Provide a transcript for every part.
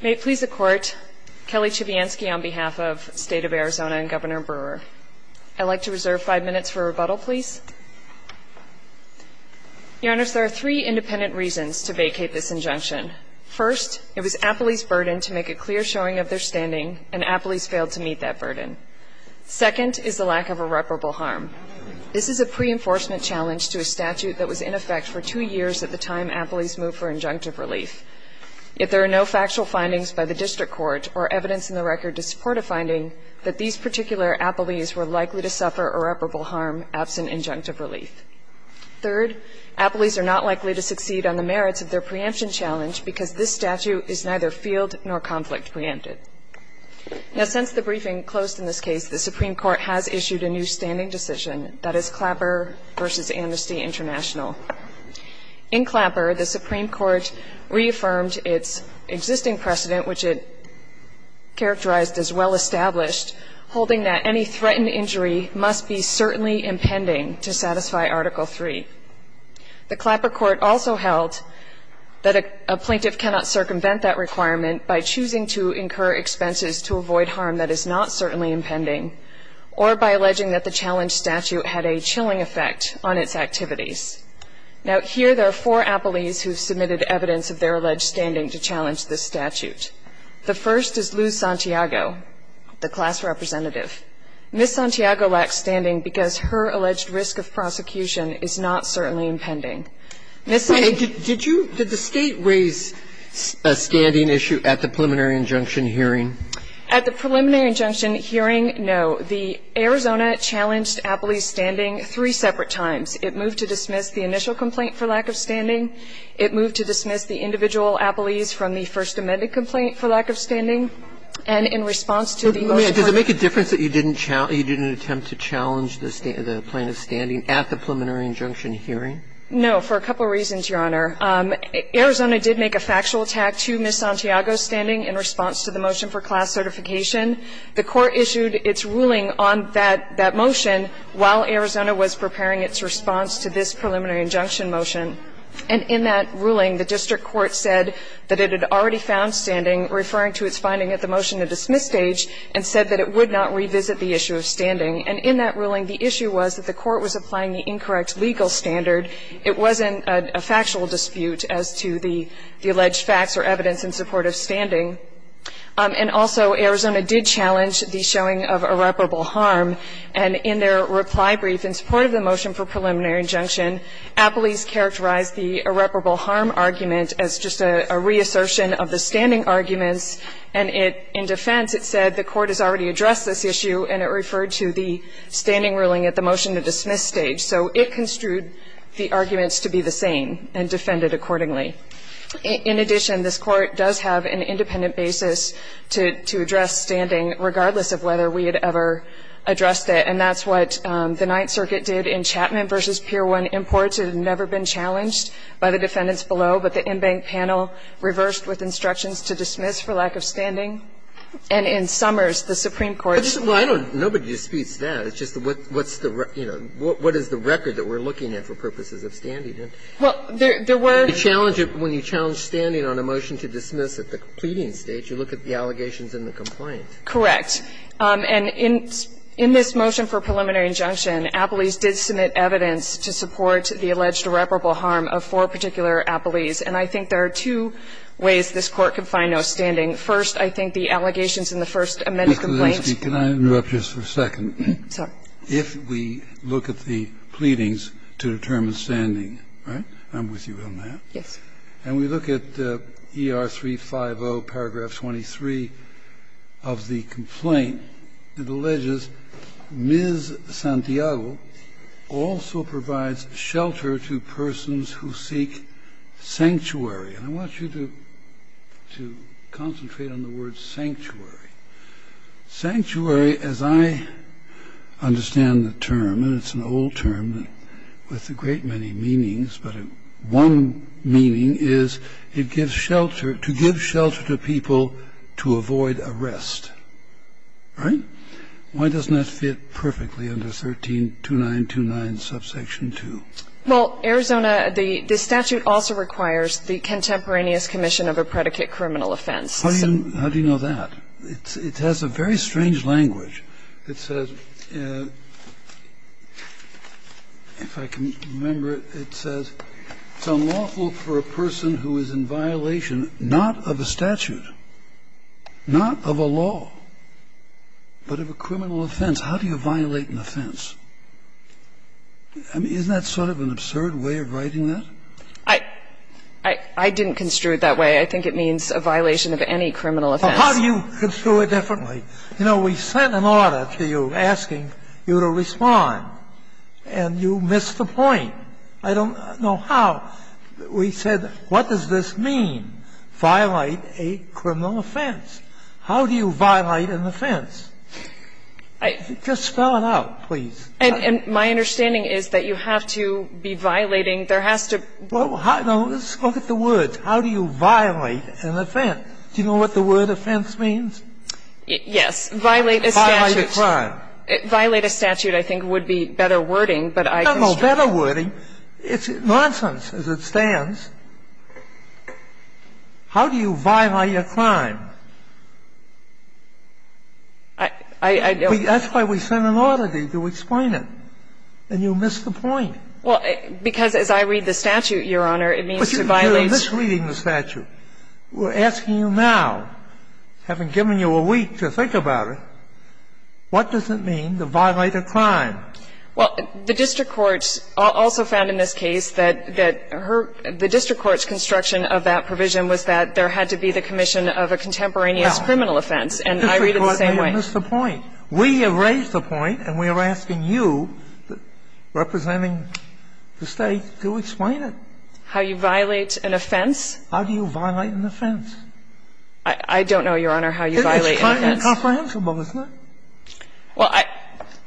May it please the Court, Kelly Chivianski on behalf of State of Arizona and Governor Brewer. I'd like to reserve five minutes for rebuttal, please. Your Honors, there are three independent reasons to vacate this injunction. First, it was Appley's burden to make a clear showing of their standing, and Appley's failed to meet that burden. Second is the lack of irreparable harm. This is a pre-enforcement challenge to a statute that was in effect for two years at the time Appley's moved for injunctive relief. If there are no factual findings by the district court or evidence in the record to support a finding, that these particular Appley's were likely to suffer irreparable harm absent injunctive relief. Third, Appley's are not likely to succeed on the merits of their preemption challenge because this statute is neither field nor conflict preempted. Now since the briefing closed in this case, the Supreme Court has issued a new standing decision, that is Clapper v. Amnesty International. In Clapper, the Supreme Court reaffirmed its existing precedent, which it characterized as well established, holding that any threatened injury must be certainly impending to satisfy Article III. The Clapper court also held that a plaintiff cannot circumvent that requirement by choosing to incur expenses to avoid harm that is not certainly impending or by alleging that the challenge statute had a chilling effect on its activities. Now, here there are four Appley's who have submitted evidence of their alleged standing to challenge this statute. The first is Lou Santiago, the class representative. Ms. Santiago lacks standing because her alleged risk of prosecution is not certainly Ms. Santiago. Sotomayor, did you, did the State raise a standing issue at the preliminary injunction hearing? At the preliminary injunction hearing, no. The Arizona challenged Appley's standing three separate times. It moved to dismiss the initial complaint for lack of standing. It moved to dismiss the individual Appley's from the first amended complaint for lack of standing. And in response to the motion for Ms. Santiago's standing. Does it make a difference that you didn't challenge, you didn't attempt to challenge the plaintiff's standing at the preliminary injunction hearing? No, for a couple of reasons, Your Honor. Arizona did make a factual attack to Ms. Santiago's standing in response to the motion for class certification. The court issued its ruling on that motion while Arizona was preparing its response to this preliminary injunction motion. And in that ruling, the district court said that it had already found standing, referring to its finding at the motion to dismiss stage, and said that it would not revisit the issue of standing. And in that ruling, the issue was that the court was applying the incorrect legal standard. It wasn't a factual dispute as to the alleged facts or evidence in support of standing. And also, Arizona did challenge the showing of irreparable harm. And in their reply brief in support of the motion for preliminary injunction, Appley's characterized the irreparable harm argument as just a reassertion of the standing arguments. And in defense, it said the court has already addressed this issue and it referred to the standing ruling at the motion to dismiss stage. So it construed the arguments to be the same and defended accordingly. In addition, this Court does have an independent basis to address standing, regardless of whether we had ever addressed it. And that's what the Ninth Circuit did in Chapman v. Pier 1. Imports had never been challenged by the defendants below, but the inbank panel reversed with instructions to dismiss for lack of standing. And in Summers, the Supreme Court said that. Breyer. Nobody disputes that. It's just what is the record that we're looking at for purposes of standing? Well, there were. When you challenge it, when you challenge standing on a motion to dismiss at the pleading stage, you look at the allegations in the complaint. Correct. And in this motion for preliminary injunction, Appley's did submit evidence to support the alleged irreparable harm of four particular Appley's. And I think there are two ways this Court can find no standing. First, I think the allegations in the first amended complaint. Mr. Lansky, can I interrupt just for a second? Sorry. If we look at the pleadings to determine standing, right? I'm with you on that. Yes. And we look at ER 350, paragraph 23 of the complaint. It alleges Ms. Santiago also provides shelter to persons who seek sanctuary. And I want you to concentrate on the word sanctuary. Sanctuary, as I understand the term, and it's an old term with a great many meanings, but one meaning is it gives shelter, to give shelter to people to avoid arrest. Right? Why doesn't that fit perfectly under 13-2929, subsection 2? Well, Arizona, the statute also requires the contemporaneous commission of a predicate criminal offense. How do you know that? It has a very strange language. It says, if I can remember it, it says, it's unlawful for a person who is in violation not of a statute, not of a law, but of a criminal offense. How do you violate an offense? I mean, isn't that sort of an absurd way of writing that? I didn't construe it that way. I think it means a violation of any criminal offense. Well, how do you construe it differently? You know, we sent an order to you asking you to respond, and you missed the point. I don't know how. We said, what does this mean, violate a criminal offense? How do you violate an offense? Just spell it out, please. And my understanding is that you have to be violating, there has to be. Well, look at the words. How do you violate an offense? Do you know what the word offense means? Yes. Violate a statute. Violate a crime. Violate a statute, I think, would be better wording, but I construe it. It's not no better wording. It's nonsense as it stands. How do you violate a crime? I don't know. That's why we sent an order to you to explain it, and you missed the point. Well, because as I read the statute, Your Honor, it means to violate. But you're misreading the statute. We're asking you now, having given you a week to think about it, what does it mean to violate a crime? Well, the district courts also found in this case that the district court's construction of that provision was that there had to be the commission of a contemporaneous criminal offense. And I read it the same way. You missed the point. We have raised the point, and we are asking you, representing the State, to explain How you violate an offense? How do you violate an offense? I don't know, Your Honor, how you violate an offense. It's kind of incomprehensible, isn't it? Well,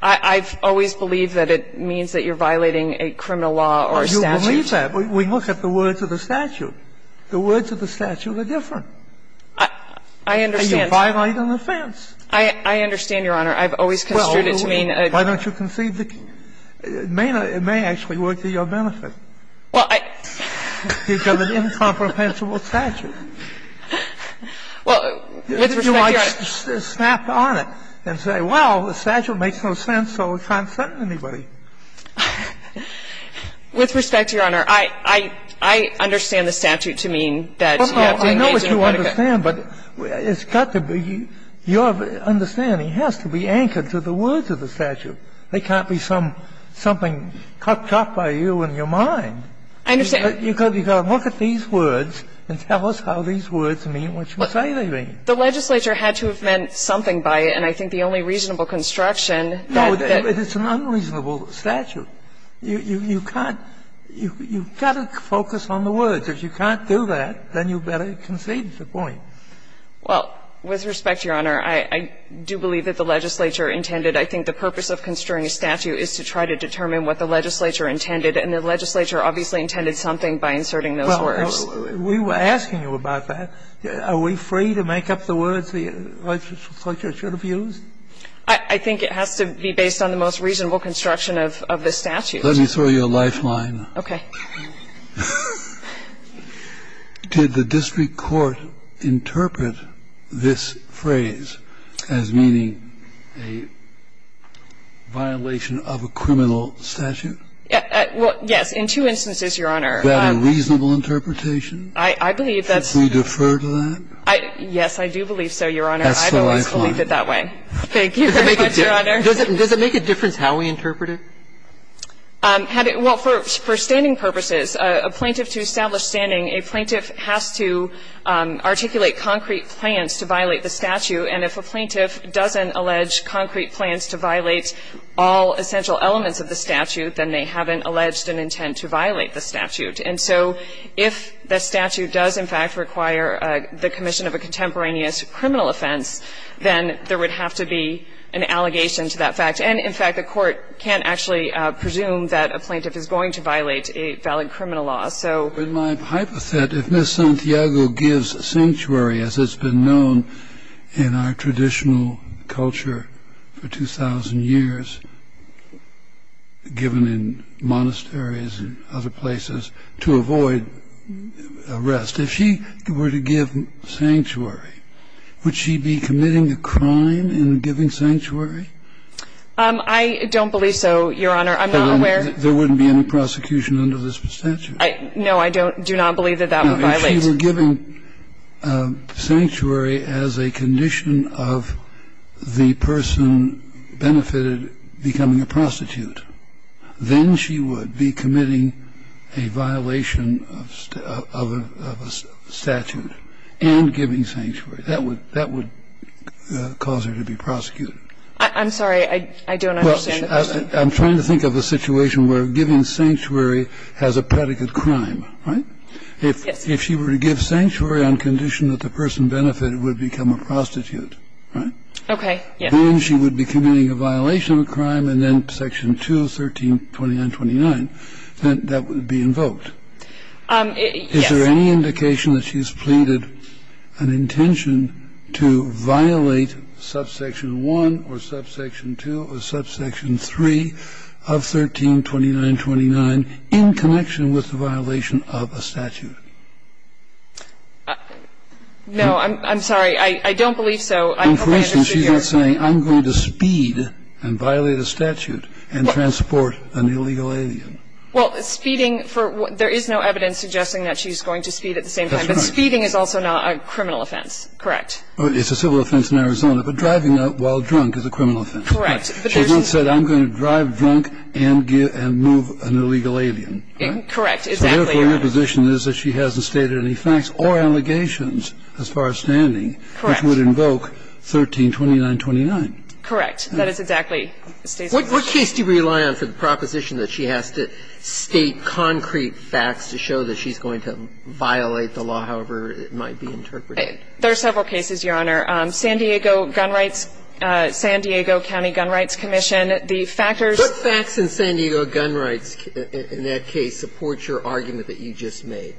I've always believed that it means that you're violating a criminal law or a statute. You believe that? We look at the words of the statute. The words of the statute are different. I understand. And you violate an offense. I understand, Your Honor. I've always construed it to mean a crime. Well, why don't you conceive the key? It may actually work to your benefit. Well, I. You've got an incomprehensible statute. Well, with respect, Your Honor. You can't just snap on it and say, well, the statute makes no sense, so it can't sentence anybody. With respect, Your Honor, I understand the statute to mean that you have to engage in a critical. No, no. I know what you understand, but it's got to be your understanding has to be anchored to the words of the statute. They can't be something cut by you in your mind. I understand. You've got to look at these words and tell us how these words mean what you say they mean. The legislature had to have meant something by it. And I think the only reasonable construction that. No, it's an unreasonable statute. You can't. You've got to focus on the words. If you can't do that, then you better conceive the point. Well, with respect, Your Honor, I do believe that the legislature intended. I think the purpose of construing a statute is to try to determine what the legislature intended, and the legislature obviously intended something by inserting those words. Well, we were asking you about that. Are we free to make up the words the legislature should have used? I think it has to be based on the most reasonable construction of the statute. Let me throw you a lifeline. Okay. Did the district court interpret this phrase as meaning a violation of a criminal statute? Well, yes, in two instances, Your Honor. Was that a reasonable interpretation? I believe that's. Should we defer to that? Yes, I do believe so, Your Honor. That's the lifeline. I've always believed it that way. Thank you very much, Your Honor. Does it make a difference how we interpret it? Well, for standing purposes, a plaintiff to establish standing, a plaintiff has to articulate concrete plans to violate the statute. And if a plaintiff doesn't allege concrete plans to violate all essential elements of the statute, then they haven't alleged an intent to violate the statute. And so if the statute does, in fact, require the commission of a contemporaneous criminal offense, then there would have to be an allegation to that fact. And, in fact, a court can't actually presume that a plaintiff is going to violate a valid criminal law. So my hypothet, if Ms. Santiago gives sanctuary, as it's been known in our traditional culture for 2,000 years, given in monasteries and other places, to avoid arrest, if she were to give sanctuary, would she be committing a crime in giving sanctuary? I don't believe so, Your Honor. I'm not aware of that. There wouldn't be any prosecution under this statute. No, I don't do not believe that that would violate. If she were giving sanctuary as a condition of the person benefited becoming a prostitute, then she would be committing a violation of a statute and giving sanctuary. That would cause her to be prosecuted. I'm sorry. I don't understand the question. I'm trying to think of a situation where giving sanctuary has a predicate crime, right? Yes. If she were to give sanctuary on condition that the person benefited would become a prostitute, right? Okay. Yes. Then she would be committing a violation of a crime, and then Section 2 of 132929, that would be invoked. Yes. Is there any indication that she's pleaded an intention to violate subsection 1 or subsection 2 or subsection 3 of 132929 in connection with the violation of a statute? No. I'm sorry. I don't believe so. I hope I understood your question. And for instance, she's not saying I'm going to speed and violate a statute and transport an illegal alien. Well, speeding for what? There is no evidence suggesting that she's going to speed at the same time. That's right. But speeding is also not a criminal offense, correct? It's a civil offense in Arizona. But driving while drunk is a criminal offense. Correct. She's not said I'm going to drive drunk and move an illegal alien. Correct. Exactly right. And therefore, your position is that she hasn't stated any facts or allegations as far as standing. Correct. Which would invoke 132929. Correct. That is exactly State's position. What case do you rely on for the proposition that she has to state concrete facts to show that she's going to violate the law, however it might be interpreted? There are several cases, Your Honor. San Diego Gun Rights, San Diego County Gun Rights Commission, the factors. What facts in San Diego Gun Rights in that case support your argument that you just made?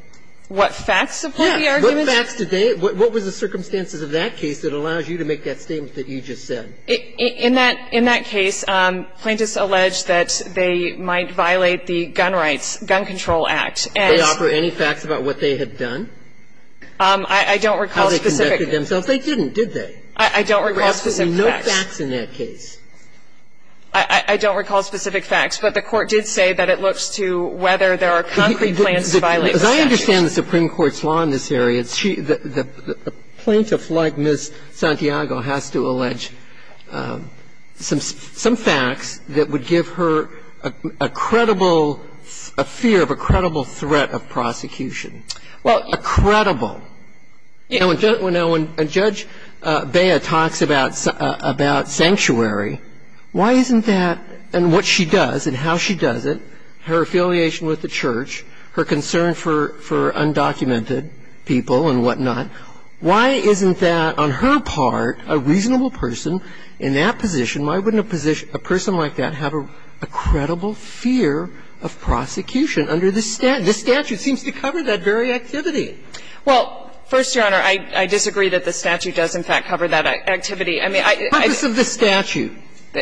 What facts support the argument? Yes. What facts did they? What was the circumstances of that case that allows you to make that statement that you just said? In that case, plaintiffs allege that they might violate the Gun Rights, Gun Control Act, and... Did they offer any facts about what they had done? I don't recall specific... How they conducted themselves. They didn't, did they? I don't recall specific facts. There must be no facts in that case. I don't recall specific facts, but the Court did say that it looks to whether there are concrete plans to violate the statute. As I understand the Supreme Court's law in this area, a plaintiff like Ms. Santiago has to allege some facts that would give her a credible, a fear of a credible threat of prosecution. Well... A credible. You know, when Judge Bea talks about sanctuary, why isn't that, and what she does and how she does it, her affiliation with the church, her concern for undocumented people and whatnot, why isn't that on her part a reasonable person in that position? Why wouldn't a person like that have a credible fear of prosecution under this statute? This statute seems to cover that very activity. Well, first, Your Honor, I disagree that the statute does, in fact, cover that activity. I mean, I... The purpose of the statute.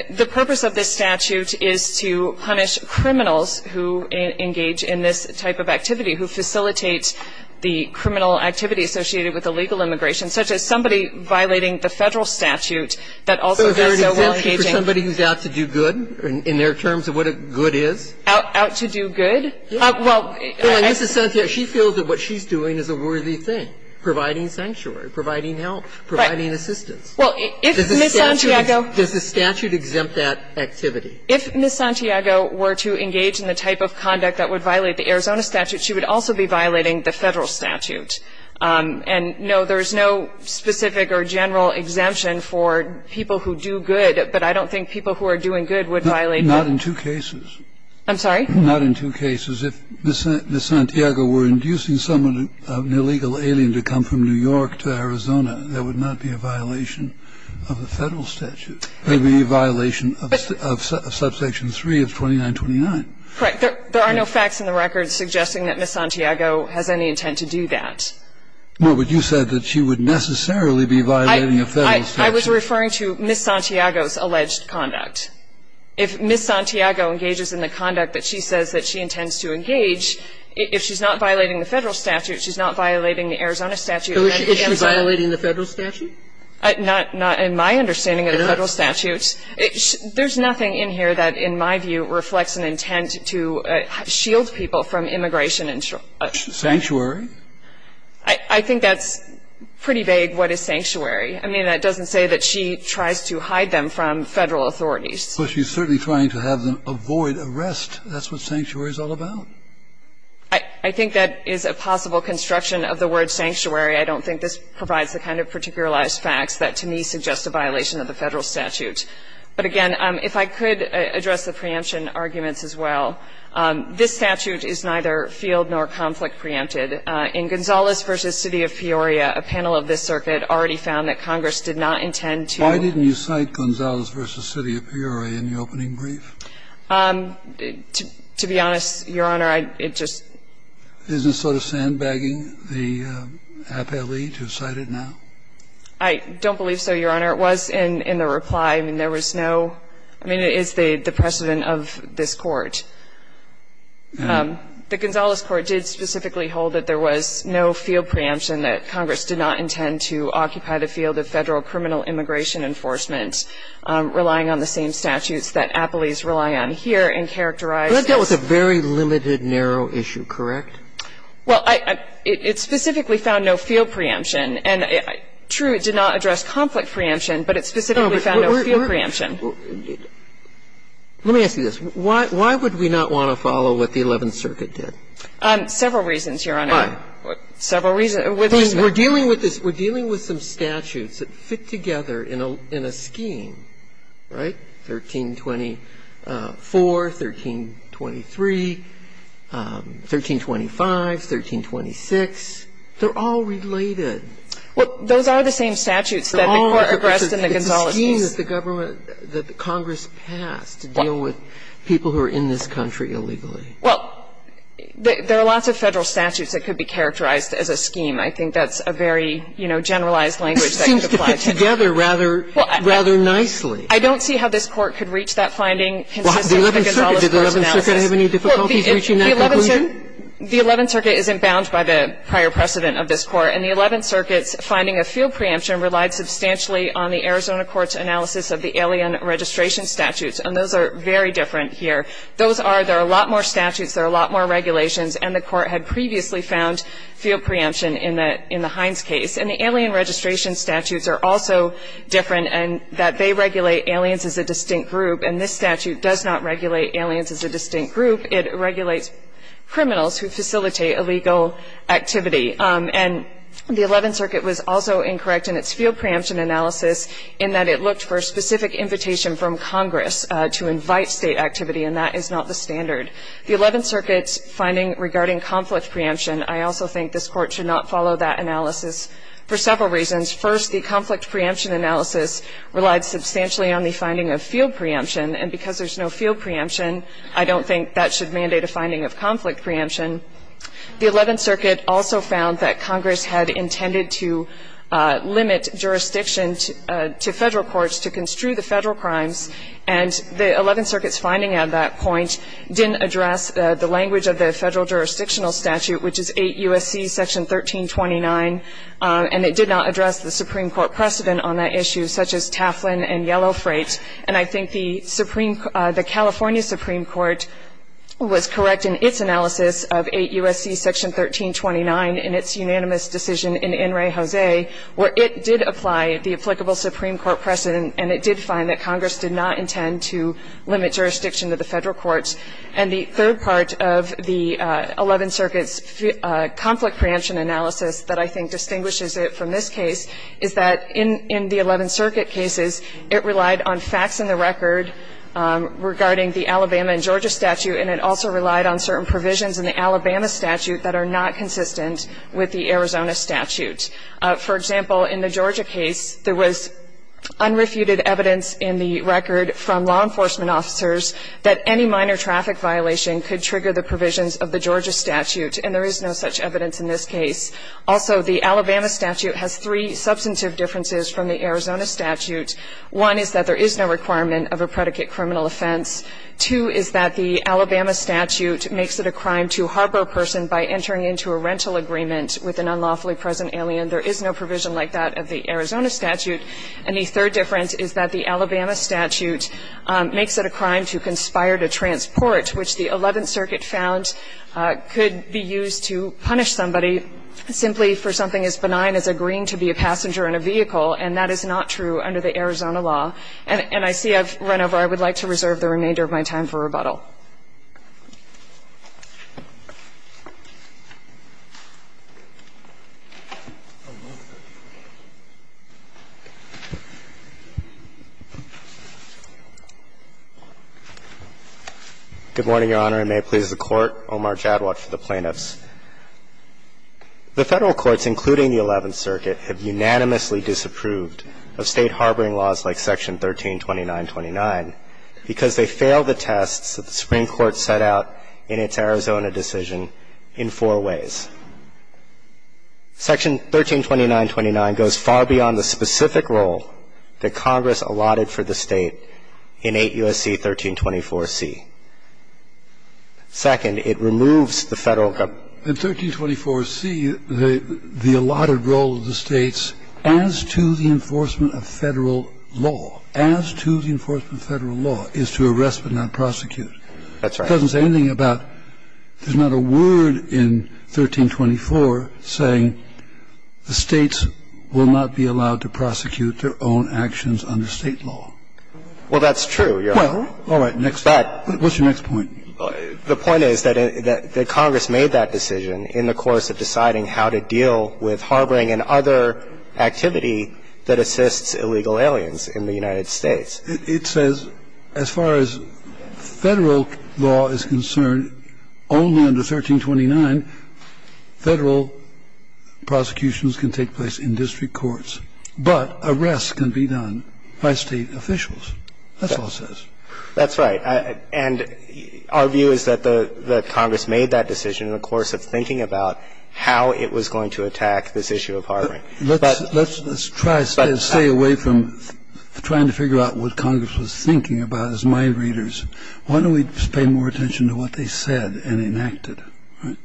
The purpose of the statute is to punish criminals who engage in this type of activity, who facilitate the criminal activity associated with illegal immigration, such as somebody violating the Federal statute that also does so while engaging. So is there an exemption for somebody who's out to do good in their terms of what a good is? Out to do good? Well. Well, Ms. Santiago, she feels that what she's doing is a worthy thing, providing sanctuary, providing help, providing assistance. Well, if Ms. Santiago... Does the statute exempt that activity? If Ms. Santiago were to engage in the type of conduct that would violate the Arizona statute, she would also be violating the Federal statute. And, no, there is no specific or general exemption for people who do good, but I don't think people who are doing good would violate the... Not in two cases. I'm sorry? Not in two cases. If Ms. Santiago were inducing someone, an illegal alien, to come from New York to Arizona, that would not be a violation of the Federal statute. It would be a violation of Subsection 3 of 2929. Correct. There are no facts in the record suggesting that Ms. Santiago has any intent to do that. Well, but you said that she would necessarily be violating a Federal statute. I was referring to Ms. Santiago's alleged conduct. If Ms. Santiago engages in the conduct that she says that she intends to engage, if she's not violating the Federal statute, she's not violating the Arizona statute. So is she violating the Federal statute? Not in my understanding of the Federal statute. There's nothing in here that, in my view, reflects an intent to shield people from immigration. Sanctuary? I think that's pretty vague, what is sanctuary. I mean, that doesn't say that she tries to hide them from Federal authorities. Well, she's certainly trying to have them avoid arrest. That's what sanctuary is all about. I think that is a possible construction of the word sanctuary. I don't think this provides the kind of particularized facts that, to me, suggest a violation of the Federal statute. But, again, if I could address the preemption arguments as well. This statute is neither field nor conflict preempted. I think that in Gonzalez v. City of Peoria, a panel of this circuit already found that Congress did not intend to ---- Why didn't you cite Gonzalez v. City of Peoria in the opening brief? To be honest, Your Honor, I just ---- Isn't it sort of sandbagging the appellee to cite it now? I don't believe so, Your Honor. It was in the reply, and there was no ---- I mean, it is the precedent of this Court. The Gonzalez Court did specifically hold that there was no field preemption, that Congress did not intend to occupy the field of Federal criminal immigration enforcement, relying on the same statutes that appellees rely on here, and characterized as ---- But that was a very limited, narrow issue, correct? Well, I ---- it specifically found no field preemption. And, true, it did not address conflict preemption, but it specifically found no field preemption. And it's not that the court doesn't want to follow what the 11th Circuit did. It's that the court doesn't want to follow what the 11th Circuit did. Let me ask you this. Why would we not want to follow what the 11th Circuit did? Several reasons, Your Honor. Why? Several reasons. We're dealing with some statutes that fit together in a scheme. Right? 1324, 1323, 1325, 1326, they're all related. Well, those are the same statutes that the court addressed in the Gonzales case. It's a scheme that the government, that Congress passed to deal with people who are in this country illegally. Well, there are lots of Federal statutes that could be characterized as a scheme. I think that's a very, you know, generalized language that could apply to them. It seems to fit together rather nicely. I don't see how this Court could reach that finding consistent with the Gonzales Court's analysis. Well, the 11th Circuit, did the 11th Circuit have any difficulties reaching that conclusion? The 11th Circuit isn't bound by the prior precedent of this Court. And the 11th Circuit's finding of field preemption relied substantially on the Arizona Court's analysis of the alien registration statutes. And those are very different here. Those are, there are a lot more statutes, there are a lot more regulations, and the Court had previously found field preemption in the Hines case. And the alien registration statutes are also different in that they regulate aliens as a distinct group, and this statute does not regulate aliens as a distinct group. It regulates criminals who facilitate illegal activity. And the 11th Circuit was also incorrect in its field preemption analysis in that it looked for a specific invitation from Congress to invite State activity, and that is not the standard. The 11th Circuit's finding regarding conflict preemption, I also think this Court should not follow that analysis for several reasons. First, the conflict preemption analysis relied substantially on the finding of field preemption, and because there's no field preemption, I don't think that should mandate a finding of conflict preemption. The 11th Circuit also found that Congress had intended to limit jurisdiction to Federal courts to construe the Federal crimes, and the 11th Circuit's finding at that point didn't address the language of the Federal jurisdictional statute, which is 8 U.S.C. Section 1329, and it did not address the Supreme Court precedent on that issue, such as Taflin and Yellow Freight. And I think the California Supreme Court was correct in its analysis of 8 U.S.C. Section 1329 in its unanimous decision in En Re Jose, where it did apply the applicable Supreme Court precedent, and it did find that Congress did not intend to limit jurisdiction to the Federal courts. And the third part of the 11th Circuit's conflict preemption analysis that I think distinguishes it from this case is that in the 11th Circuit cases, it relied on facts in the record regarding the Alabama and Georgia statute, and it also relied on certain provisions in the Alabama statute that are not consistent with the Arizona statute. For example, in the Georgia case, there was unrefuted evidence in the record from law enforcement officers that any minor traffic violation could trigger the provisions of the Georgia statute, and there is no such evidence in this case. Also, the Alabama statute has three substantive differences from the Arizona statute. One is that there is no requirement of a predicate criminal offense. Two is that the Alabama statute makes it a crime to harbor a person by entering into a rental agreement with an unlawfully present alien. There is no provision like that of the Arizona statute. And the third difference is that the Alabama statute makes it a crime to conspire to transport, which the 11th Circuit found could be used to punish somebody simply for something as benign as agreeing to be a passenger in a vehicle, and that is not true under the Arizona law. And I see I've run over. I would like to reserve the remainder of my time for rebuttal. Good morning, Your Honor. And may it please the Court. Omar Jadwat for the plaintiffs. The Federal courts, including the 11th Circuit, have unanimously disapproved of State harboring laws like Section 132929 because they fail the tests of the State Supreme Court set out in its Arizona decision in four ways. Section 132929 goes far beyond the specific role that Congress allotted for the State in 8 U.S.C. 1324C. Second, it removes the Federal government. In 1324C, the allotted role of the States as to the enforcement of Federal law, as to the enforcement of Federal law, is to arrest but not prosecute. That's right. It doesn't say anything about there's not a word in 1324 saying the States will not be allowed to prosecute their own actions under State law. Well, that's true, Your Honor. All right. What's your next point? The point is that Congress made that decision in the course of deciding how to deal with harboring and other activity that assists illegal aliens in the United States. It says as far as Federal law is concerned, only under 1329 Federal prosecutions can take place in district courts, but arrests can be done by State officials. That's all it says. That's right. And our view is that the Congress made that decision in the course of thinking That's right. Let's try to stay away from trying to figure out what Congress was thinking about, as my readers. Why don't we just pay more attention to what they said and enacted?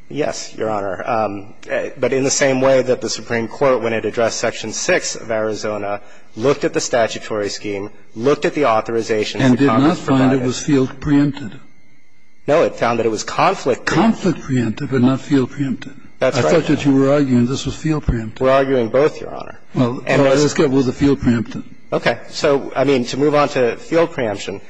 Yes, Your Honor. But in the same way that the Supreme Court, when it addressed Section 6 of Arizona, looked at the statutory scheme, looked at the authorizations that Congress provided. And did not find it was field preempted. No, it found that it was conflict preempted. Conflict preempted, but not field preempted. That's right. I thought that you were arguing this was field preempted. We're arguing both, Your Honor. Well, it was field preempted. Okay. So, I mean, to move on to field preemption,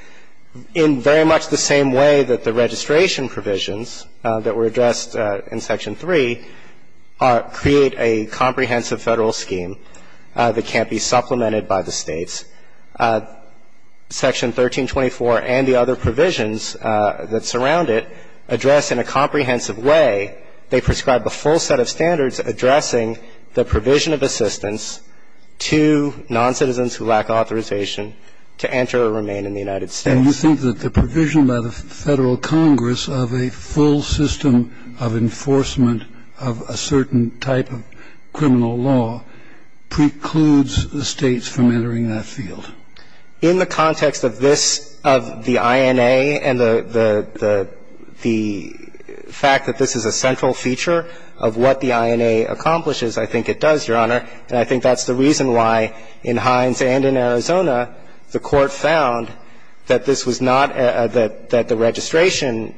in very much the same way that the registration provisions that were addressed in Section 3 create a comprehensive Federal scheme that can't be supplemented by the States, Section 1324 and the other provisions that surround it address in a comprehensive way, they prescribe the full set of standards addressing the provision of assistance to noncitizens who lack authorization to enter or remain in the United States. And you think that the provision by the Federal Congress of a full system of enforcement of a certain type of criminal law precludes the States from entering that field? In the context of this, of the INA and the fact that this is a central feature of what the INA accomplishes, I think it does, Your Honor. And I think that's the reason why in Hines and in Arizona the Court found that this was not the registration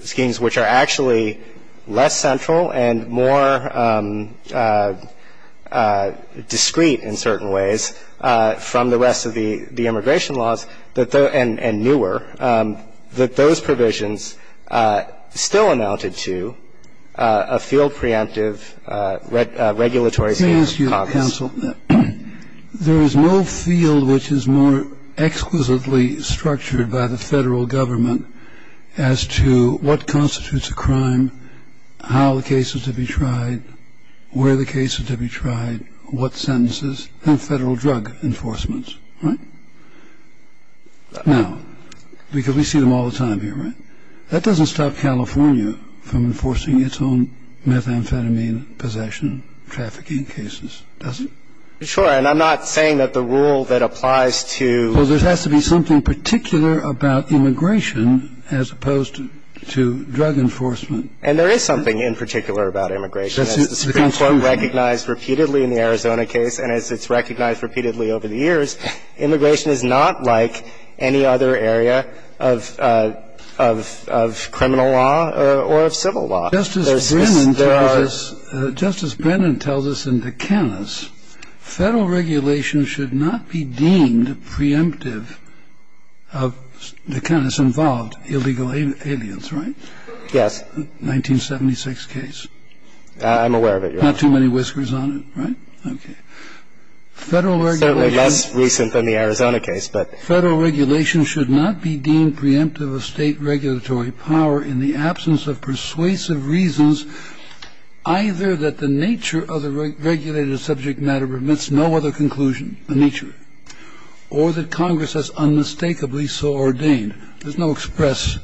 schemes which are actually less central and more discreet in certain ways from the rest of the immigration laws and newer, that those provisions still amounted to a field preemptive regulatory scheme of Congress. Can I ask you, counsel, there is no field which is more exquisitely structured by the Federal Government as to what constitutes a crime, how the case is to be tried, where the case is to be tried, what sentences and Federal drug enforcements, right? Now, because we see them all the time here, right? That doesn't stop California from enforcing its own methamphetamine possession trafficking cases, does it? Sure. And I'm not saying that the rule that applies to Well, there has to be something particular about immigration as opposed to drug enforcement. And there is something in particular about immigration. As the Supreme Court recognized repeatedly in the Arizona case and as it's recognized repeatedly over the years, immigration is not like any other area of criminal law or of civil law. Justice Brennan tells us in Duqanis, Federal regulation should not be deemed preemptive of Duqanis-involved illegal aliens, right? Yes. 1976 case. I'm aware of it, Your Honor. Not too many whiskers on it, right? Okay. Federal regulation Certainly less recent than the Arizona case, but Federal regulation should not be deemed preemptive of state regulatory power in the absence of persuasive reasons either that the nature of the regulated subject matter permits no other conclusion, the nature, or that Congress has unmistakably so ordained. There's no express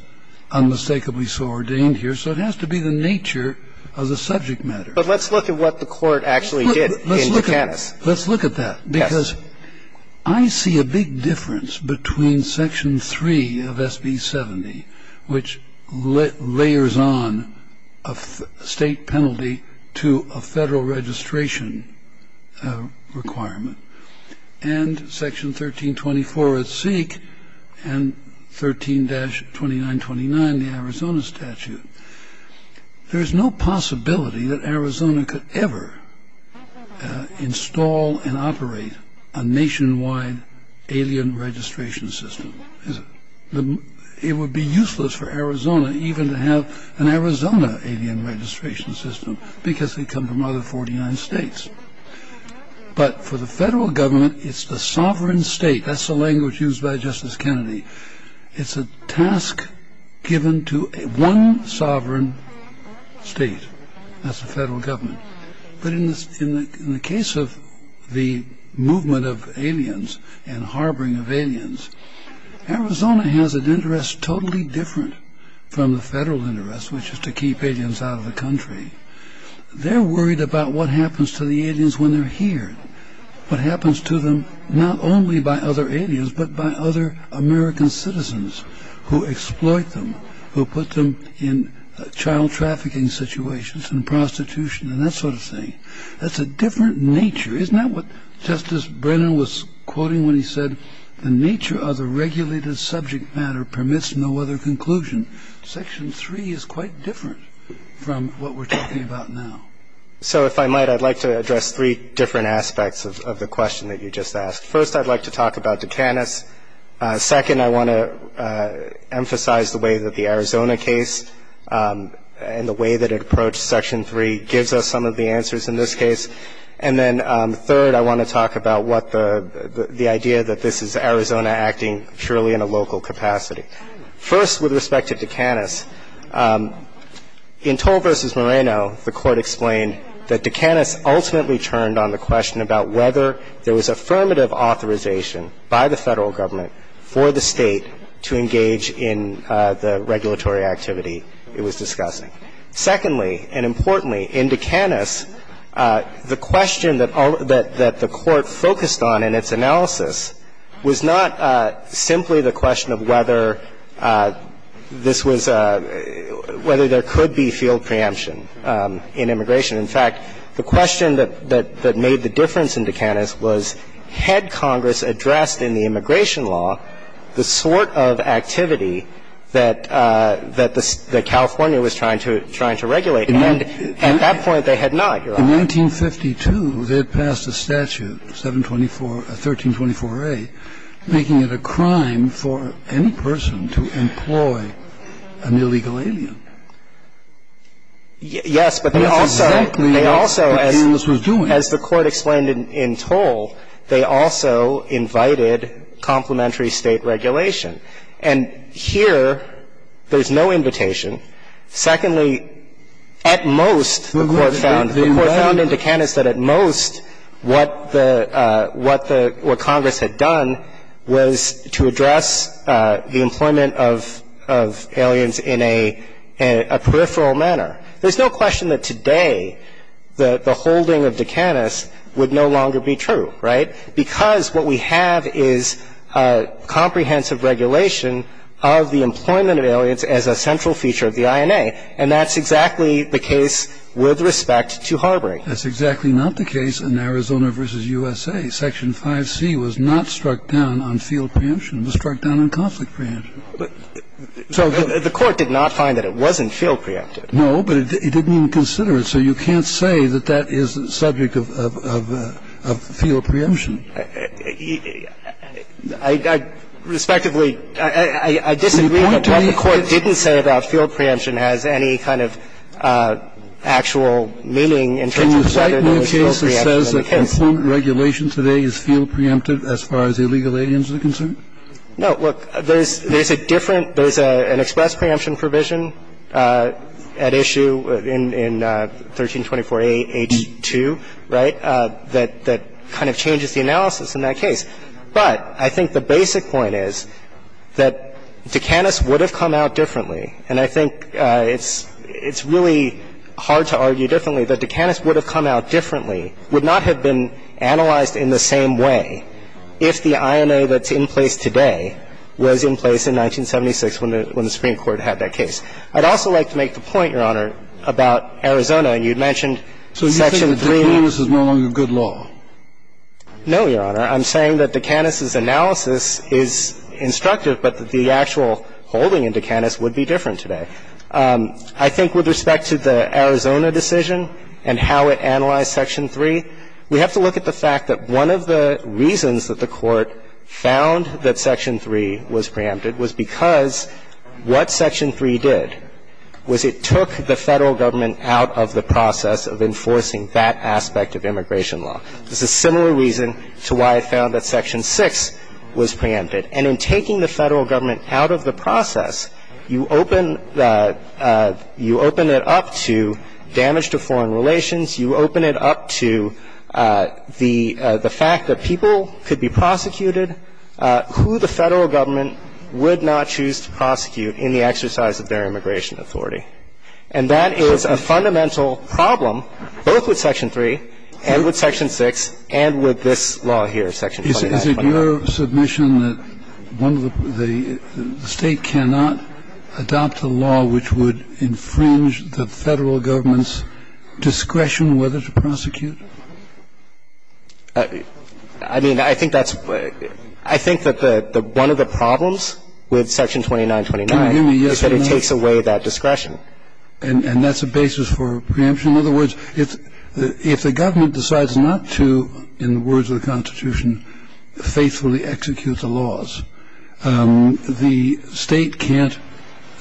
unmistakably so ordained here. So it has to be the nature of the subject matter. But let's look at what the Court actually did in Duqanis. Let's look at that. Yes. Because I see a big difference between Section 3 of SB 70, which layers on a state penalty to a Federal registration requirement, and Section 1324 at Seek and 13-2929, the Arizona statute. There's no possibility that Arizona could ever install and operate a nationwide alien registration system, is it? It would be useless for Arizona even to have an Arizona alien registration system because they come from other 49 states. But for the Federal government, it's the sovereign state. That's the language used by Justice Kennedy. It's a task given to one sovereign state. That's the Federal government. But in the case of the movement of aliens and harboring of aliens, Arizona has an interest totally different from the Federal interest, which is to keep aliens out of the country. They're worried about what happens to the aliens when they're here, what happens to them not only by other aliens but by other American citizens who exploit them, who put them in child trafficking situations and prostitution and that sort of thing. That's a different nature. Isn't that what Justice Brennan was quoting when he said, the nature of the regulated subject matter permits no other conclusion? Section 3 is quite different from what we're talking about now. So if I might, I'd like to address three different aspects of the question that you just asked. First, I'd like to talk about Dukanis. Second, I want to emphasize the way that the Arizona case and the way that it approached Section 3 gives us some of the answers in this case. And then third, I want to talk about what the idea that this is Arizona acting purely in a local capacity. First, with respect to Dukanis, in Toll v. Moreno, the Court explained that Dukanis ultimately turned on the question about whether there was affirmative authorization by the Federal Government for the State to engage in the regulatory activity it was discussing. Secondly, and importantly, in Dukanis, the question that the Court focused on in its analysis was not simply the question of whether this was a – whether there could be field preemption in immigration. In fact, the question that made the difference in Dukanis was, had Congress addressed in the immigration law the sort of activity that California was trying to regulate? And at that point, they had not, Your Honor. In 1952, they had passed a statute, 724 – 1324a, making it a crime for any person to employ an illegal alien. Yes, but they also – they also, as the Court explained in Toll, they also invited complementary State regulation. And here, there's no invitation. Secondly, at most, the Court found – the Court found in Dukanis that at most, what the – what the – what Congress had done was to address the employment of – of aliens in a – a peripheral manner. There's no question that today the holding of Dukanis would no longer be true, right, because what we have is a comprehensive regulation of the employment of aliens as a central feature of the INA, and that's exactly the case with respect to harboring. That's exactly not the case in Arizona v. USA. Section 5C was not struck down on field preemption. It was struck down on conflict preemption. So the Court did not find that it wasn't field preempted. No, but it didn't even consider it. So you can't say that that is the subject of – of field preemption. I – I – respectively, I disagree that what the Court didn't say about field preemption has any kind of actual meaning in terms of whether there was field preemption in the case. Can you cite no case that says that employment regulation today is field preempted as far as the illegal aliens are concerned? No. Look, there's – there's a different – there's an express preemption provision at issue in – in 1324a.H.2, right, that – that kind of changes the analysis in that case. But I think the basic point is that Dukanis would have come out differently, and I think it's – it's really hard to argue differently, that Dukanis would have come out differently, would not have been analyzed in the same way if the INA that's in place today was in place in 1976 when the – when the Supreme Court had that case. I'd also like to make the point, Your Honor, about Arizona, and you'd mentioned Section 3. So you think that Dukanis is no longer good law? No, Your Honor. I'm saying that Dukanis' analysis is instructive, but that the actual holding in Dukanis would be different today. I think with respect to the Arizona decision and how it analyzed Section 3, we have to look at the fact that one of the reasons that the Court found that Section 3 was preempted was because what Section 3 did was it took the Federal government out of the process of enforcing that aspect of immigration law. There's a similar reason to why it found that Section 6 was preempted. And in taking the Federal government out of the process, you open the – you open it up to damage to foreign relations, you open it up to the fact that people could be prosecuted, who the Federal government would not choose to prosecute in the exercise of their immigration authority. And that is a fundamental problem both with Section 3 and with Section 6 and with this law here, Section 29. Is it your submission that one of the – the State cannot adopt a law which would infringe the Federal government's discretion whether to prosecute? I mean, I think that's – I think that one of the problems with Section 2929 is that it takes away that discretion. And that's a basis for preemption. In other words, if the government decides not to, in the words of the Constitution, faithfully execute the laws, the State can't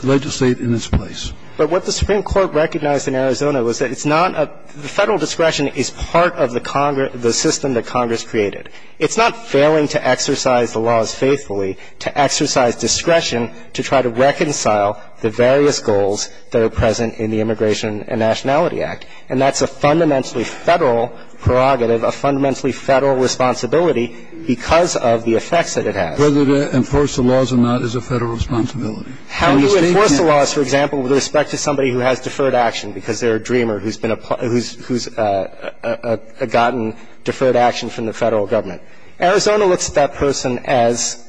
legislate in its place. But what the Supreme Court recognized in Arizona was that it's not a – the Federal discretion is part of the system that Congress created. It's not failing to exercise the laws faithfully, to exercise discretion to try to reconcile the various goals that are present in the Immigration and Nationality Act. And that's a fundamentally Federal prerogative, a fundamentally Federal responsibility because of the effects that it has. Whether to enforce the laws or not is a Federal responsibility. How do you enforce the laws, for example, with respect to somebody who has deferred action because they're a dreamer who's been a – who's gotten deferred action from the Federal government? Arizona looks at that person as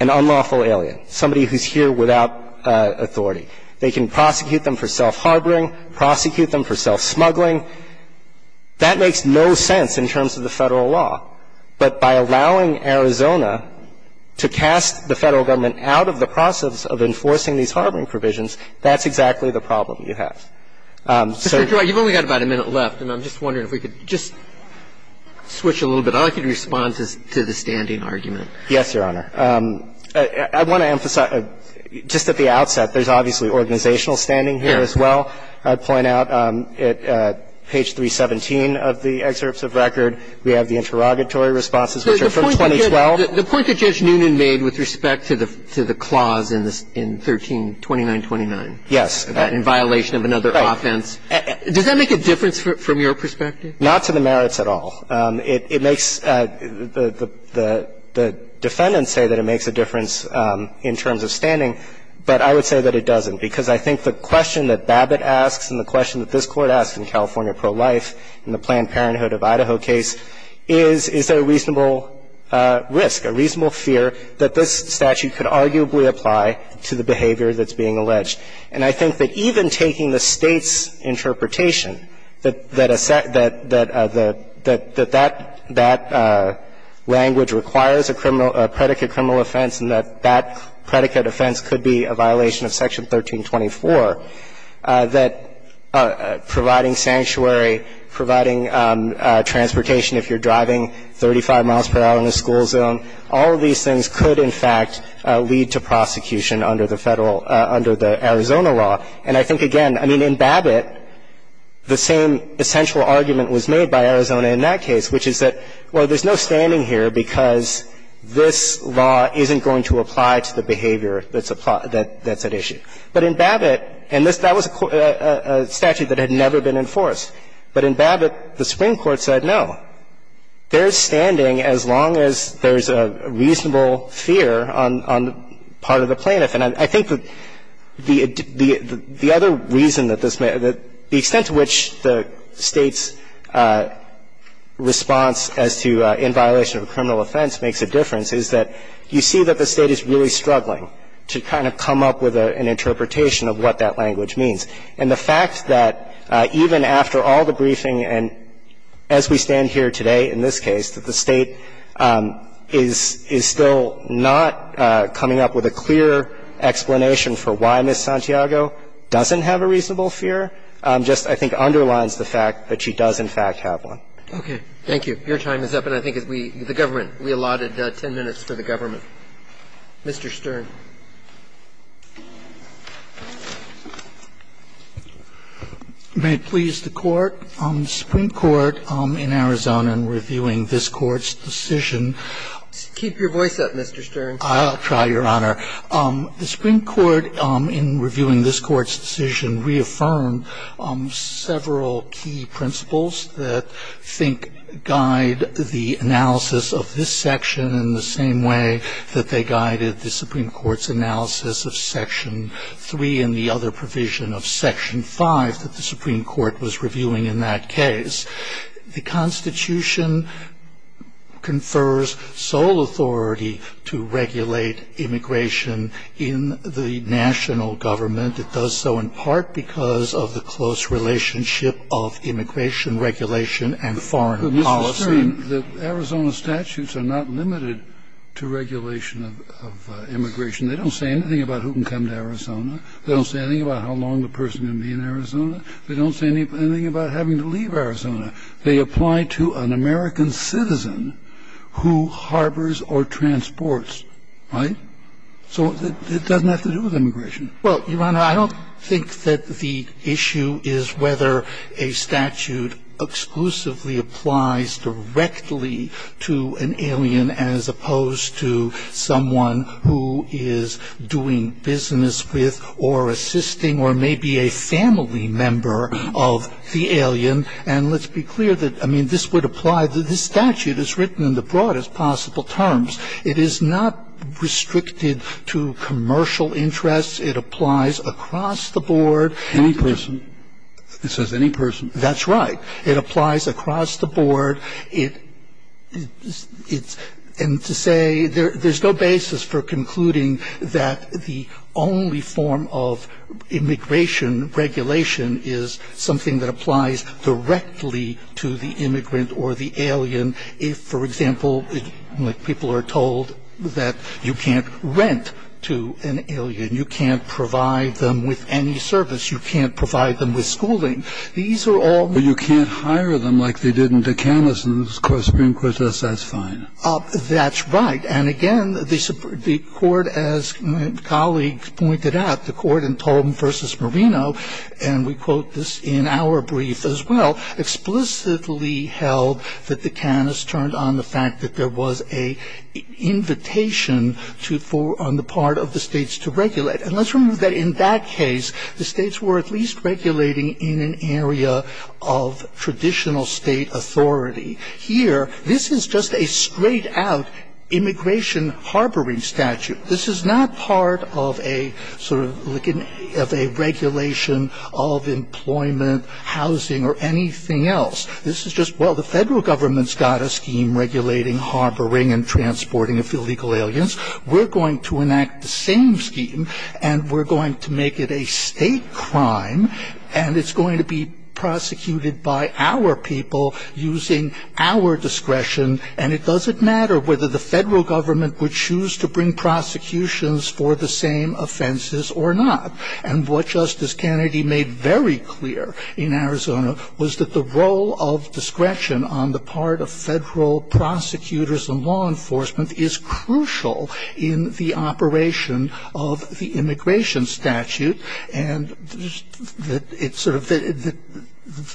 an unlawful alien, somebody who's here without authority. They can prosecute them for self-harboring, prosecute them for self-smuggling. That makes no sense in terms of the Federal law. But by allowing Arizona to cast the Federal government out of the process of enforcing these harboring provisions, that's exactly the problem you have. So you've only got about a minute left, and I'm just wondering if we could just switch a little bit. I'd like you to respond to the standing argument. Yes, Your Honor. I want to emphasize, just at the outset, there's obviously organizational standing here as well. I'd point out at page 317 of the excerpts of record, we have the interrogatory responses, which are from 2012. The point that Judge Noonan made with respect to the clause in 132929. Yes. In violation of another offense. Right. Does that make a difference from your perspective? Not to the merits at all. It makes the defendants say that it makes a difference in terms of standing, but I would say that it doesn't. Because I think the question that Babbitt asks and the question that this Court asked in California pro-life in the Planned Parenthood of Idaho case is, is there a reasonable risk, a reasonable fear that this statute could arguably apply to the behavior that's being alleged. And I think that even taking the State's interpretation, that that language requires a criminal, a predicate criminal offense and that that predicate offense could be a violation of Section 1324, that providing sanctuary, providing transportation if you're driving 35 miles per hour in a school zone, all of these things could in fact lead to prosecution under the Federal, under the Arizona law. And I think, again, I mean, in Babbitt, the same essential argument was made by Arizona in that case, which is that, well, there's no standing here because this law isn't going to apply to the behavior that's at issue. But in Babbitt, and that was a statute that had never been enforced, but in Babbitt, the Supreme Court said no. There's standing as long as there's a reasonable fear on the part of the plaintiff. And I think the other reason that this may be, the extent to which the State's response as to in violation of a criminal offense makes a difference is that you see that the State is really struggling to kind of come up with an interpretation of what that language means. And the fact that even after all the briefing and as we stand here today in this case, that the State is still not coming up with a clear explanation for why Ms. Santiago doesn't have a reasonable fear, just, I think, underlines the fact that she does, in fact, have one. Roberts. Thank you. Your time is up, and I think we, the government, we allotted 10 minutes for the government. Mr. Stern. Stern. May it please the Court. The Supreme Court in Arizona in reviewing this Court's decision. Keep your voice up, Mr. Stern. I'll try, Your Honor. The Supreme Court in reviewing this Court's decision reaffirmed several key principles that I think guide the analysis of this section in the same way that they guided the Supreme Court's analysis of Section 3 and the other provision of Section 5 that the Supreme Court was reviewing in that case. The Constitution confers sole authority to regulate immigration in the national government. It does so in part because of the close relationship of immigration regulation and foreign policy. But, Mr. Stern, the Arizona statutes are not limited to regulation of immigration. They don't say anything about who can come to Arizona. They don't say anything about how long the person can be in Arizona. They don't say anything about having to leave Arizona. They apply to an American citizen who harbors or transports, right? So it doesn't have to do with immigration. Well, Your Honor, I don't think that the issue is whether a statute exclusively applies directly to an alien as opposed to someone who is doing business with or assisting or maybe a family member of the alien. And let's be clear that, I mean, this would apply. This statute is written in the broadest possible terms. It is not restricted to commercial interests. It applies across the board. Any person. It says any person. That's right. It applies across the board. And to say there's no basis for concluding that the only form of immigration regulation is something that applies directly to the immigrant or the alien, if, for example, people are told that you can't rent to an alien, you can't provide them with any service, you can't provide them with schooling. These are all. Well, you can't hire them like they did in Duqanis and the Supreme Court says that's fine. That's right. And, again, the court, as my colleague pointed out, the court in Tolman v. Moreno, and we quote this in our brief as well, explicitly held that Duqanis turned on the fact that there was an invitation on the part of the states to regulate. And let's remember that in that case, the states were at least regulating in an area of traditional state authority. Here, this is just a straight out immigration harboring statute. This is not part of a sort of regulation of employment, housing, or anything else. This is just, well, the federal government's got a scheme regulating harboring and transporting illegal aliens. We're going to enact the same scheme and we're going to make it a state crime and it's going to be prosecuted by our people using our discretion and it doesn't matter whether the federal government would choose to bring prosecutions for the same offenses or not. And what Justice Kennedy made very clear in Arizona was that the role of discretion on the part of federal prosecutors and law enforcement is crucial in the operation of the immigration statute and that it's sort of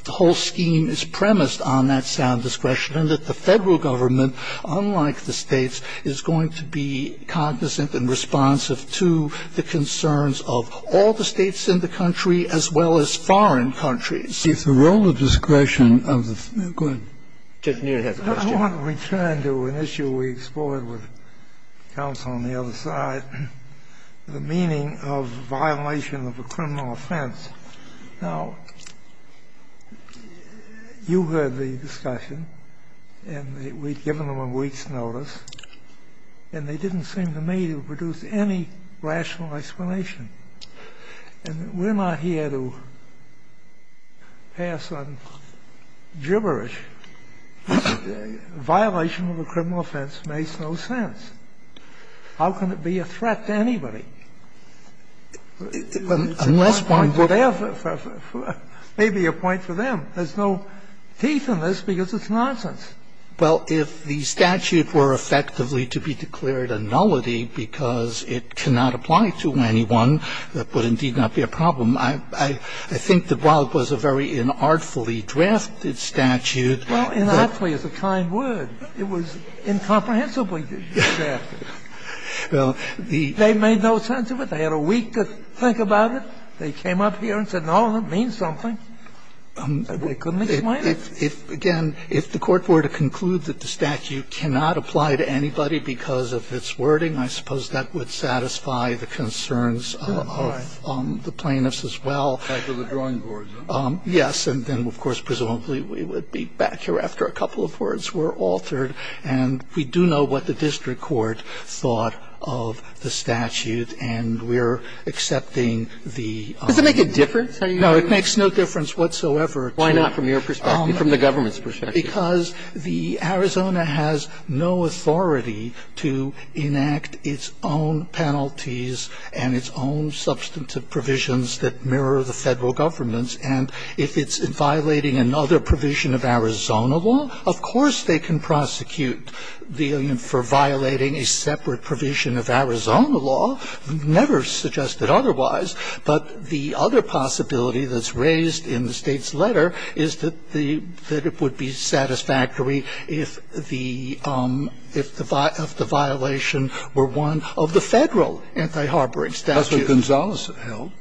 the whole scheme is premised on that sound discretion and that the federal government, unlike the states, is going to be cognizant and responsive to the concerns of all the states in the country as well as foreign countries. If the role of discretion of the, go ahead. I want to return to an issue we explored with counsel on the other side, the meaning of violation of a criminal offense. Now, you heard the discussion and we'd given them a week's notice and they didn't seem to me to produce any rational explanation. And we're not here to pass on gibberish. Violation of a criminal offense makes no sense. How can it be a threat to anybody? Unless one would have a point for them. There's no teeth in this because it's nonsense. Well, if the statute were effectively to be declared a nullity because it cannot apply to anyone, that would indeed not be a problem. I think that while it was a very inartfully drafted statute. Well, inartfully is a kind word. It was incomprehensibly drafted. They made no sense of it. They had a week to think about it. They came up here and said, no, it means something. They couldn't explain it. If, again, if the Court were to conclude that the statute cannot apply to anybody because of its wording, I suppose that would satisfy the concerns of the plaintiffs as well. Right. Of the drawing boards. Yes. And then, of course, presumably we would be back here after a couple of words were altered, and we do know what the district court thought of the statute, and we're accepting the. Does it make a difference? No, it makes no difference whatsoever to. Why not from your perspective, from the government's perspective? Because the Arizona has no authority to enact its own penalties and its own substantive provisions that mirror the federal government's, and if it's violating another provision of Arizona law, of course they can prosecute the alien for violating a separate provision of Arizona law. Never suggested otherwise, but the other possibility that's raised in the state's case is that it would be satisfactory if the violation were one of the federal anti-harboring statute. That's what Gonzales held.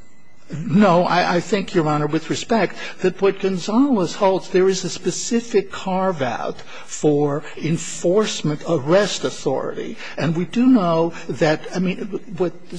No. I think, Your Honor, with respect, that what Gonzales holds, there is a specific carve-out for enforcement arrest authority, and we do know that, I mean, what the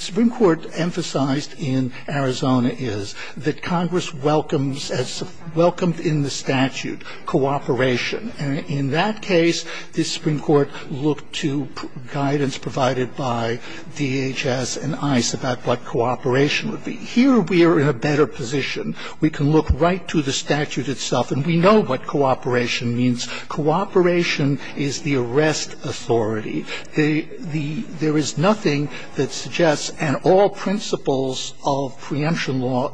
statute, cooperation. And in that case, the Supreme Court looked to guidance provided by DHS and ICE about what cooperation would be. Here we are in a better position. We can look right to the statute itself, and we know what cooperation means. Cooperation is the arrest authority. There is nothing that suggests, and all principles of preemption law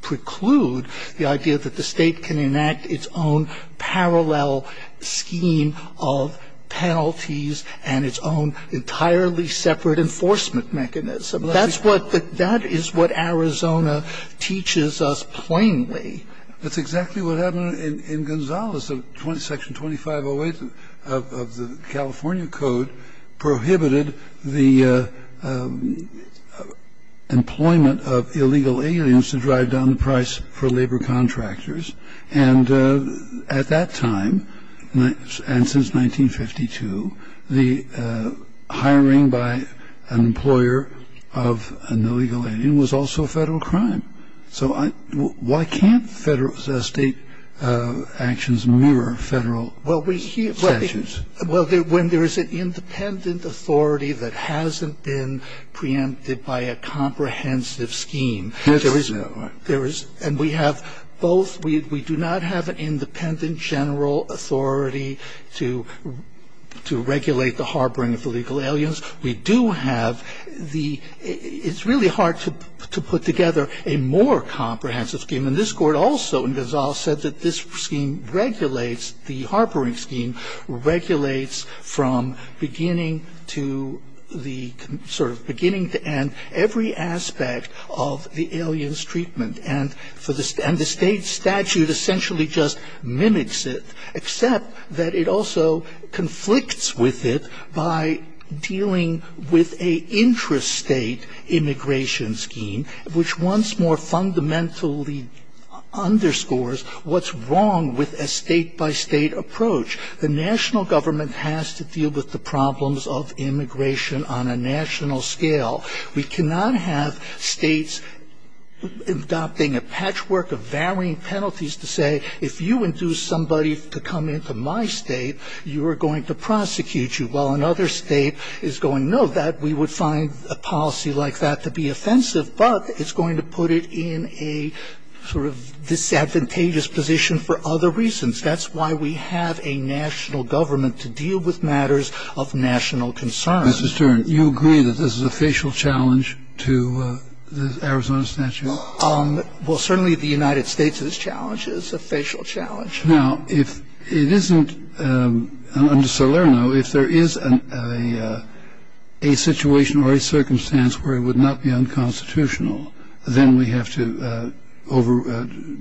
preclude the idea that the State can enact its own parallel scheme of penalties and its own entirely separate enforcement mechanism. That's what the – that is what Arizona teaches us plainly. That's exactly what happened in Gonzales. Section 2508 of the California Code prohibited the employment of illegal aliens to drive down the price for labor contractors. And at that time, and since 1952, the hiring by an employer of an illegal alien was also a Federal crime. So why can't Federal – State actions mirror Federal statutes? Well, when there is an independent authority that hasn't been preempted by a comprehensive scheme, there is – and we have both – we do not have an independent general authority to regulate the harboring of illegal aliens. We do have the – it's really hard to put together a more comprehensive scheme. And this Court also in Gonzales said that this scheme regulates, the harboring scheme regulates from beginning to the – sort of beginning to end every aspect of the alien's treatment. And the State statute essentially just mimics it, except that it also conflicts with it by dealing with a intrastate immigration scheme, which once more fundamentally underscores what's wrong with a State-by-State approach. The national government has to deal with the problems of immigration on a national scale. We cannot have States adopting a patchwork of varying penalties to say, if you induce somebody to come into my State, you are going to prosecute you, while another State is going, no, that – we would find a policy like that to be offensive, but it's going to put it in a sort of disadvantageous position for other reasons. That's why we have a national government to deal with matters of national concern. Mr. Stern, you agree that this is a facial challenge to the Arizona statute? Well, certainly the United States' challenge is a facial challenge. Now, if it isn't – under Salerno, if there is a situation or a circumstance where it would not be unconstitutional, then we have to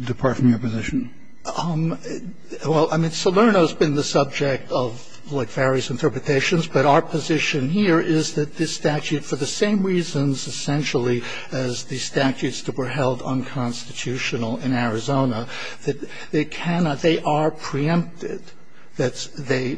depart from your position. Well, I mean, Salerno has been the subject of, like, various interpretations, but our position here is that this statute, for the same reasons essentially as the statutes that were held unconstitutional in Arizona, that they cannot – they are preempted. They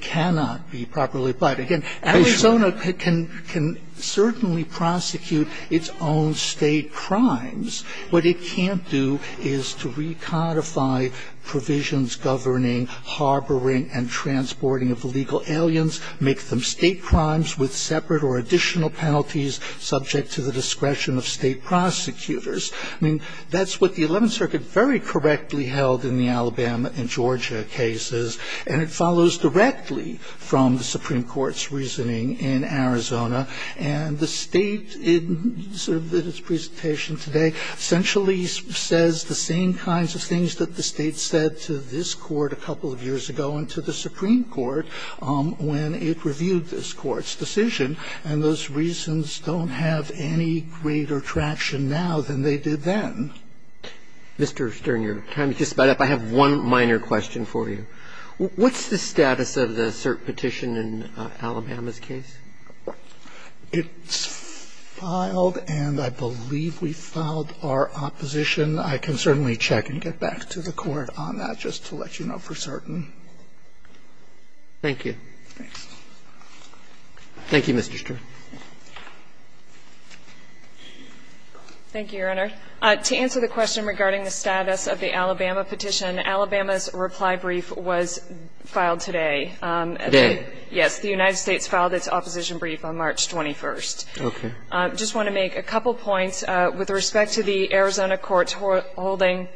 cannot be properly – but, again, Arizona can certainly prosecute its own State crimes. What it can't do is to recodify provisions governing harboring and transporting of illegal aliens, make them State crimes with separate or additional penalties subject to the discretion of State prosecutors. I mean, that's what the Eleventh Circuit very correctly held in the Alabama and Georgia cases, and it follows directly from the Supreme Court's reasoning in Arizona. And the State, in sort of its presentation today, essentially says the same kinds of things that the State said to this Court a couple of years ago and to the Supreme Court when it reviewed this Court's decision, and those reasons don't have any greater traction now than they did then. Mr. Stern, your time is just about up. I have one minor question for you. What's the status of the cert petition in Alabama's case? It's filed, and I believe we filed our opposition. I can certainly check and get back to the Court on that, just to let you know for certain. Thank you. Thank you, Mr. Stern. Thank you, Your Honor. To answer the question regarding the status of the Alabama petition, Alabama's reply brief was filed today. Today? Yes. The United States filed its opposition brief on March 21st. Okay. I just want to make a couple points. With respect to the Arizona court's holding,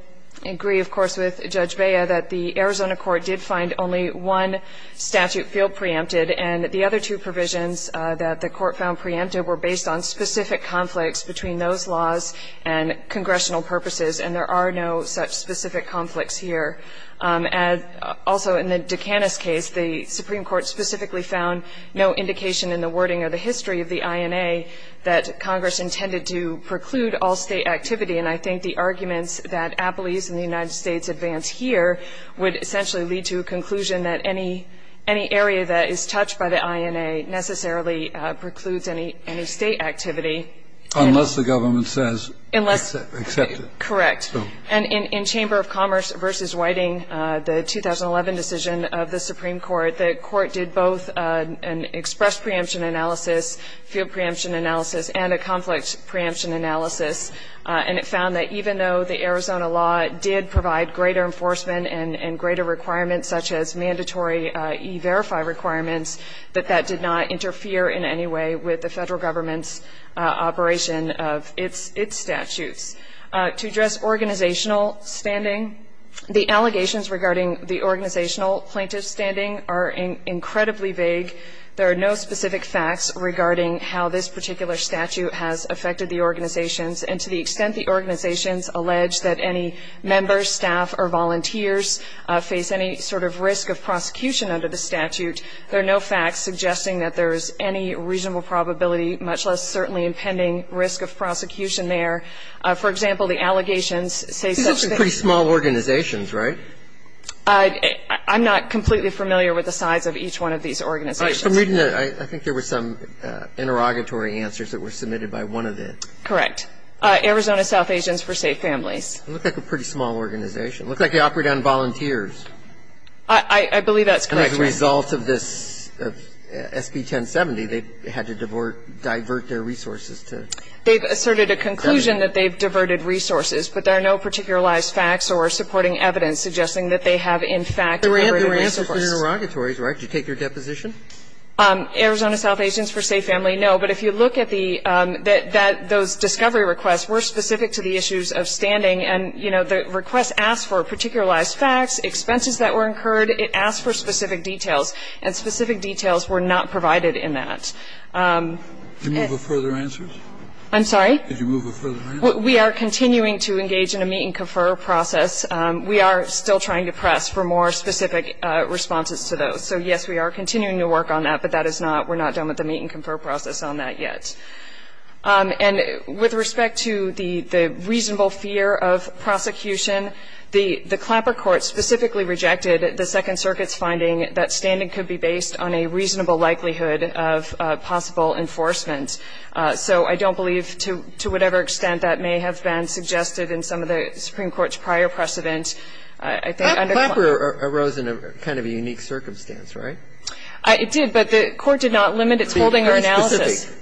I agree, of course, with Judge Bea, that the Arizona court did find only one statute field preempted, and the other two provisions that the court found preempted were based on specific conflicts between those laws and congressional purposes, and there are no such specific conflicts here. Also, in the Dukanis case, the Supreme Court specifically found no indication in the wording or the history of the INA that Congress intended to preclude all State activity, and I think the arguments that Appley's and the United States advance here would essentially lead to a conclusion that any area that is touched by the INA necessarily precludes any State activity. Unless the government says accept it. Correct. And in Chamber of Commerce v. Whiting, the 2011 decision of the Supreme Court, the court did both an express preemption analysis, field preemption analysis, and a conflict preemption analysis, and it found that even though the Arizona law did provide greater enforcement and greater requirements such as mandatory E-Verify requirements, that that did not interfere in any way with the Federal government's operation of its statutes. To address organizational standing, the allegations regarding the organizational plaintiff's standing are incredibly vague. There are no specific facts regarding how this particular statute has affected the organizations, and to the extent the organizations allege that any members, staff or volunteers face any sort of risk of prosecution under the statute, there are no facts suggesting that there is any reasonable probability, much less certainly pending, risk of prosecution there. For example, the allegations say such things. These are pretty small organizations, right? I'm not completely familiar with the size of each one of these organizations. I'm reading that I think there were some interrogatory answers that were submitted by one of the. Correct. Arizona South Asians for Safe Families. It looked like a pretty small organization. It looked like they operated on volunteers. I believe that's correct. And as a result of this SB 1070, they had to divert their resources to government. They've asserted a conclusion that they've diverted resources, but there are no particularized facts or supporting evidence suggesting that they have, in fact, diverted resources. There were answers in the interrogatories, right? Did you take their deposition? Arizona South Asians for Safe Families, no. But if you look at the that those discovery requests were specific to the issues of standing, and, you know, the request asked for particularized facts, expenses that were incurred, it asked for specific details. And specific details were not provided in that. Did you move a further answer? I'm sorry? Did you move a further answer? We are continuing to engage in a meet-and-confer process. We are still trying to press for more specific responses to those. So, yes, we are continuing to work on that, but that is not we're not done with the meet-and-confer process on that yet. And with respect to the reasonable fear of prosecution, the Clamper court specifically rejected the Second Circuit's finding that standing could be based on a reasonable likelihood of possible enforcement. So I don't believe, to whatever extent that may have been suggested in some of the Supreme Court's prior precedent, I think under Clamper. Clamper arose in kind of a unique circumstance, right? It did, but the court did not limit its holding or analysis.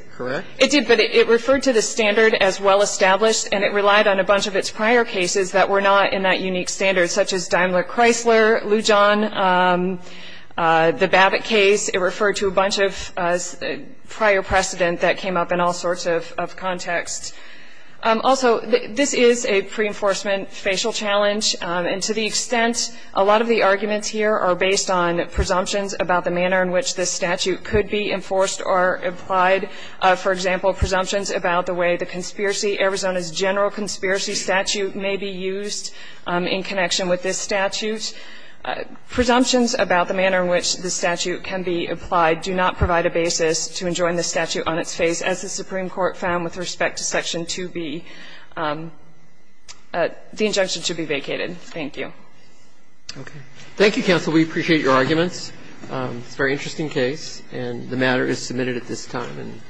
It did, but it referred to the standard as well established, and it relied on a bunch of its prior cases that were not in that unique standard, such as Daimler-Chrysler, Lujan, the Babbitt case. It referred to a bunch of prior precedent that came up in all sorts of contexts. Also, this is a pre-enforcement facial challenge, and to the extent a lot of the arguments here are based on presumptions about the manner in which this statute could be enforced or applied, for example, presumptions about the way the conspiracy, Arizona's general conspiracy statute may be used in connection with this statute, presumptions about the manner in which this statute can be applied do not provide a basis to enjoin this statute on its face, as the Supreme Court found with respect to Section 2B. The injunction should be vacated. Thank you. Roberts. Thank you, counsel. We appreciate your arguments. It's a very interesting case, and the matter is submitted at this time.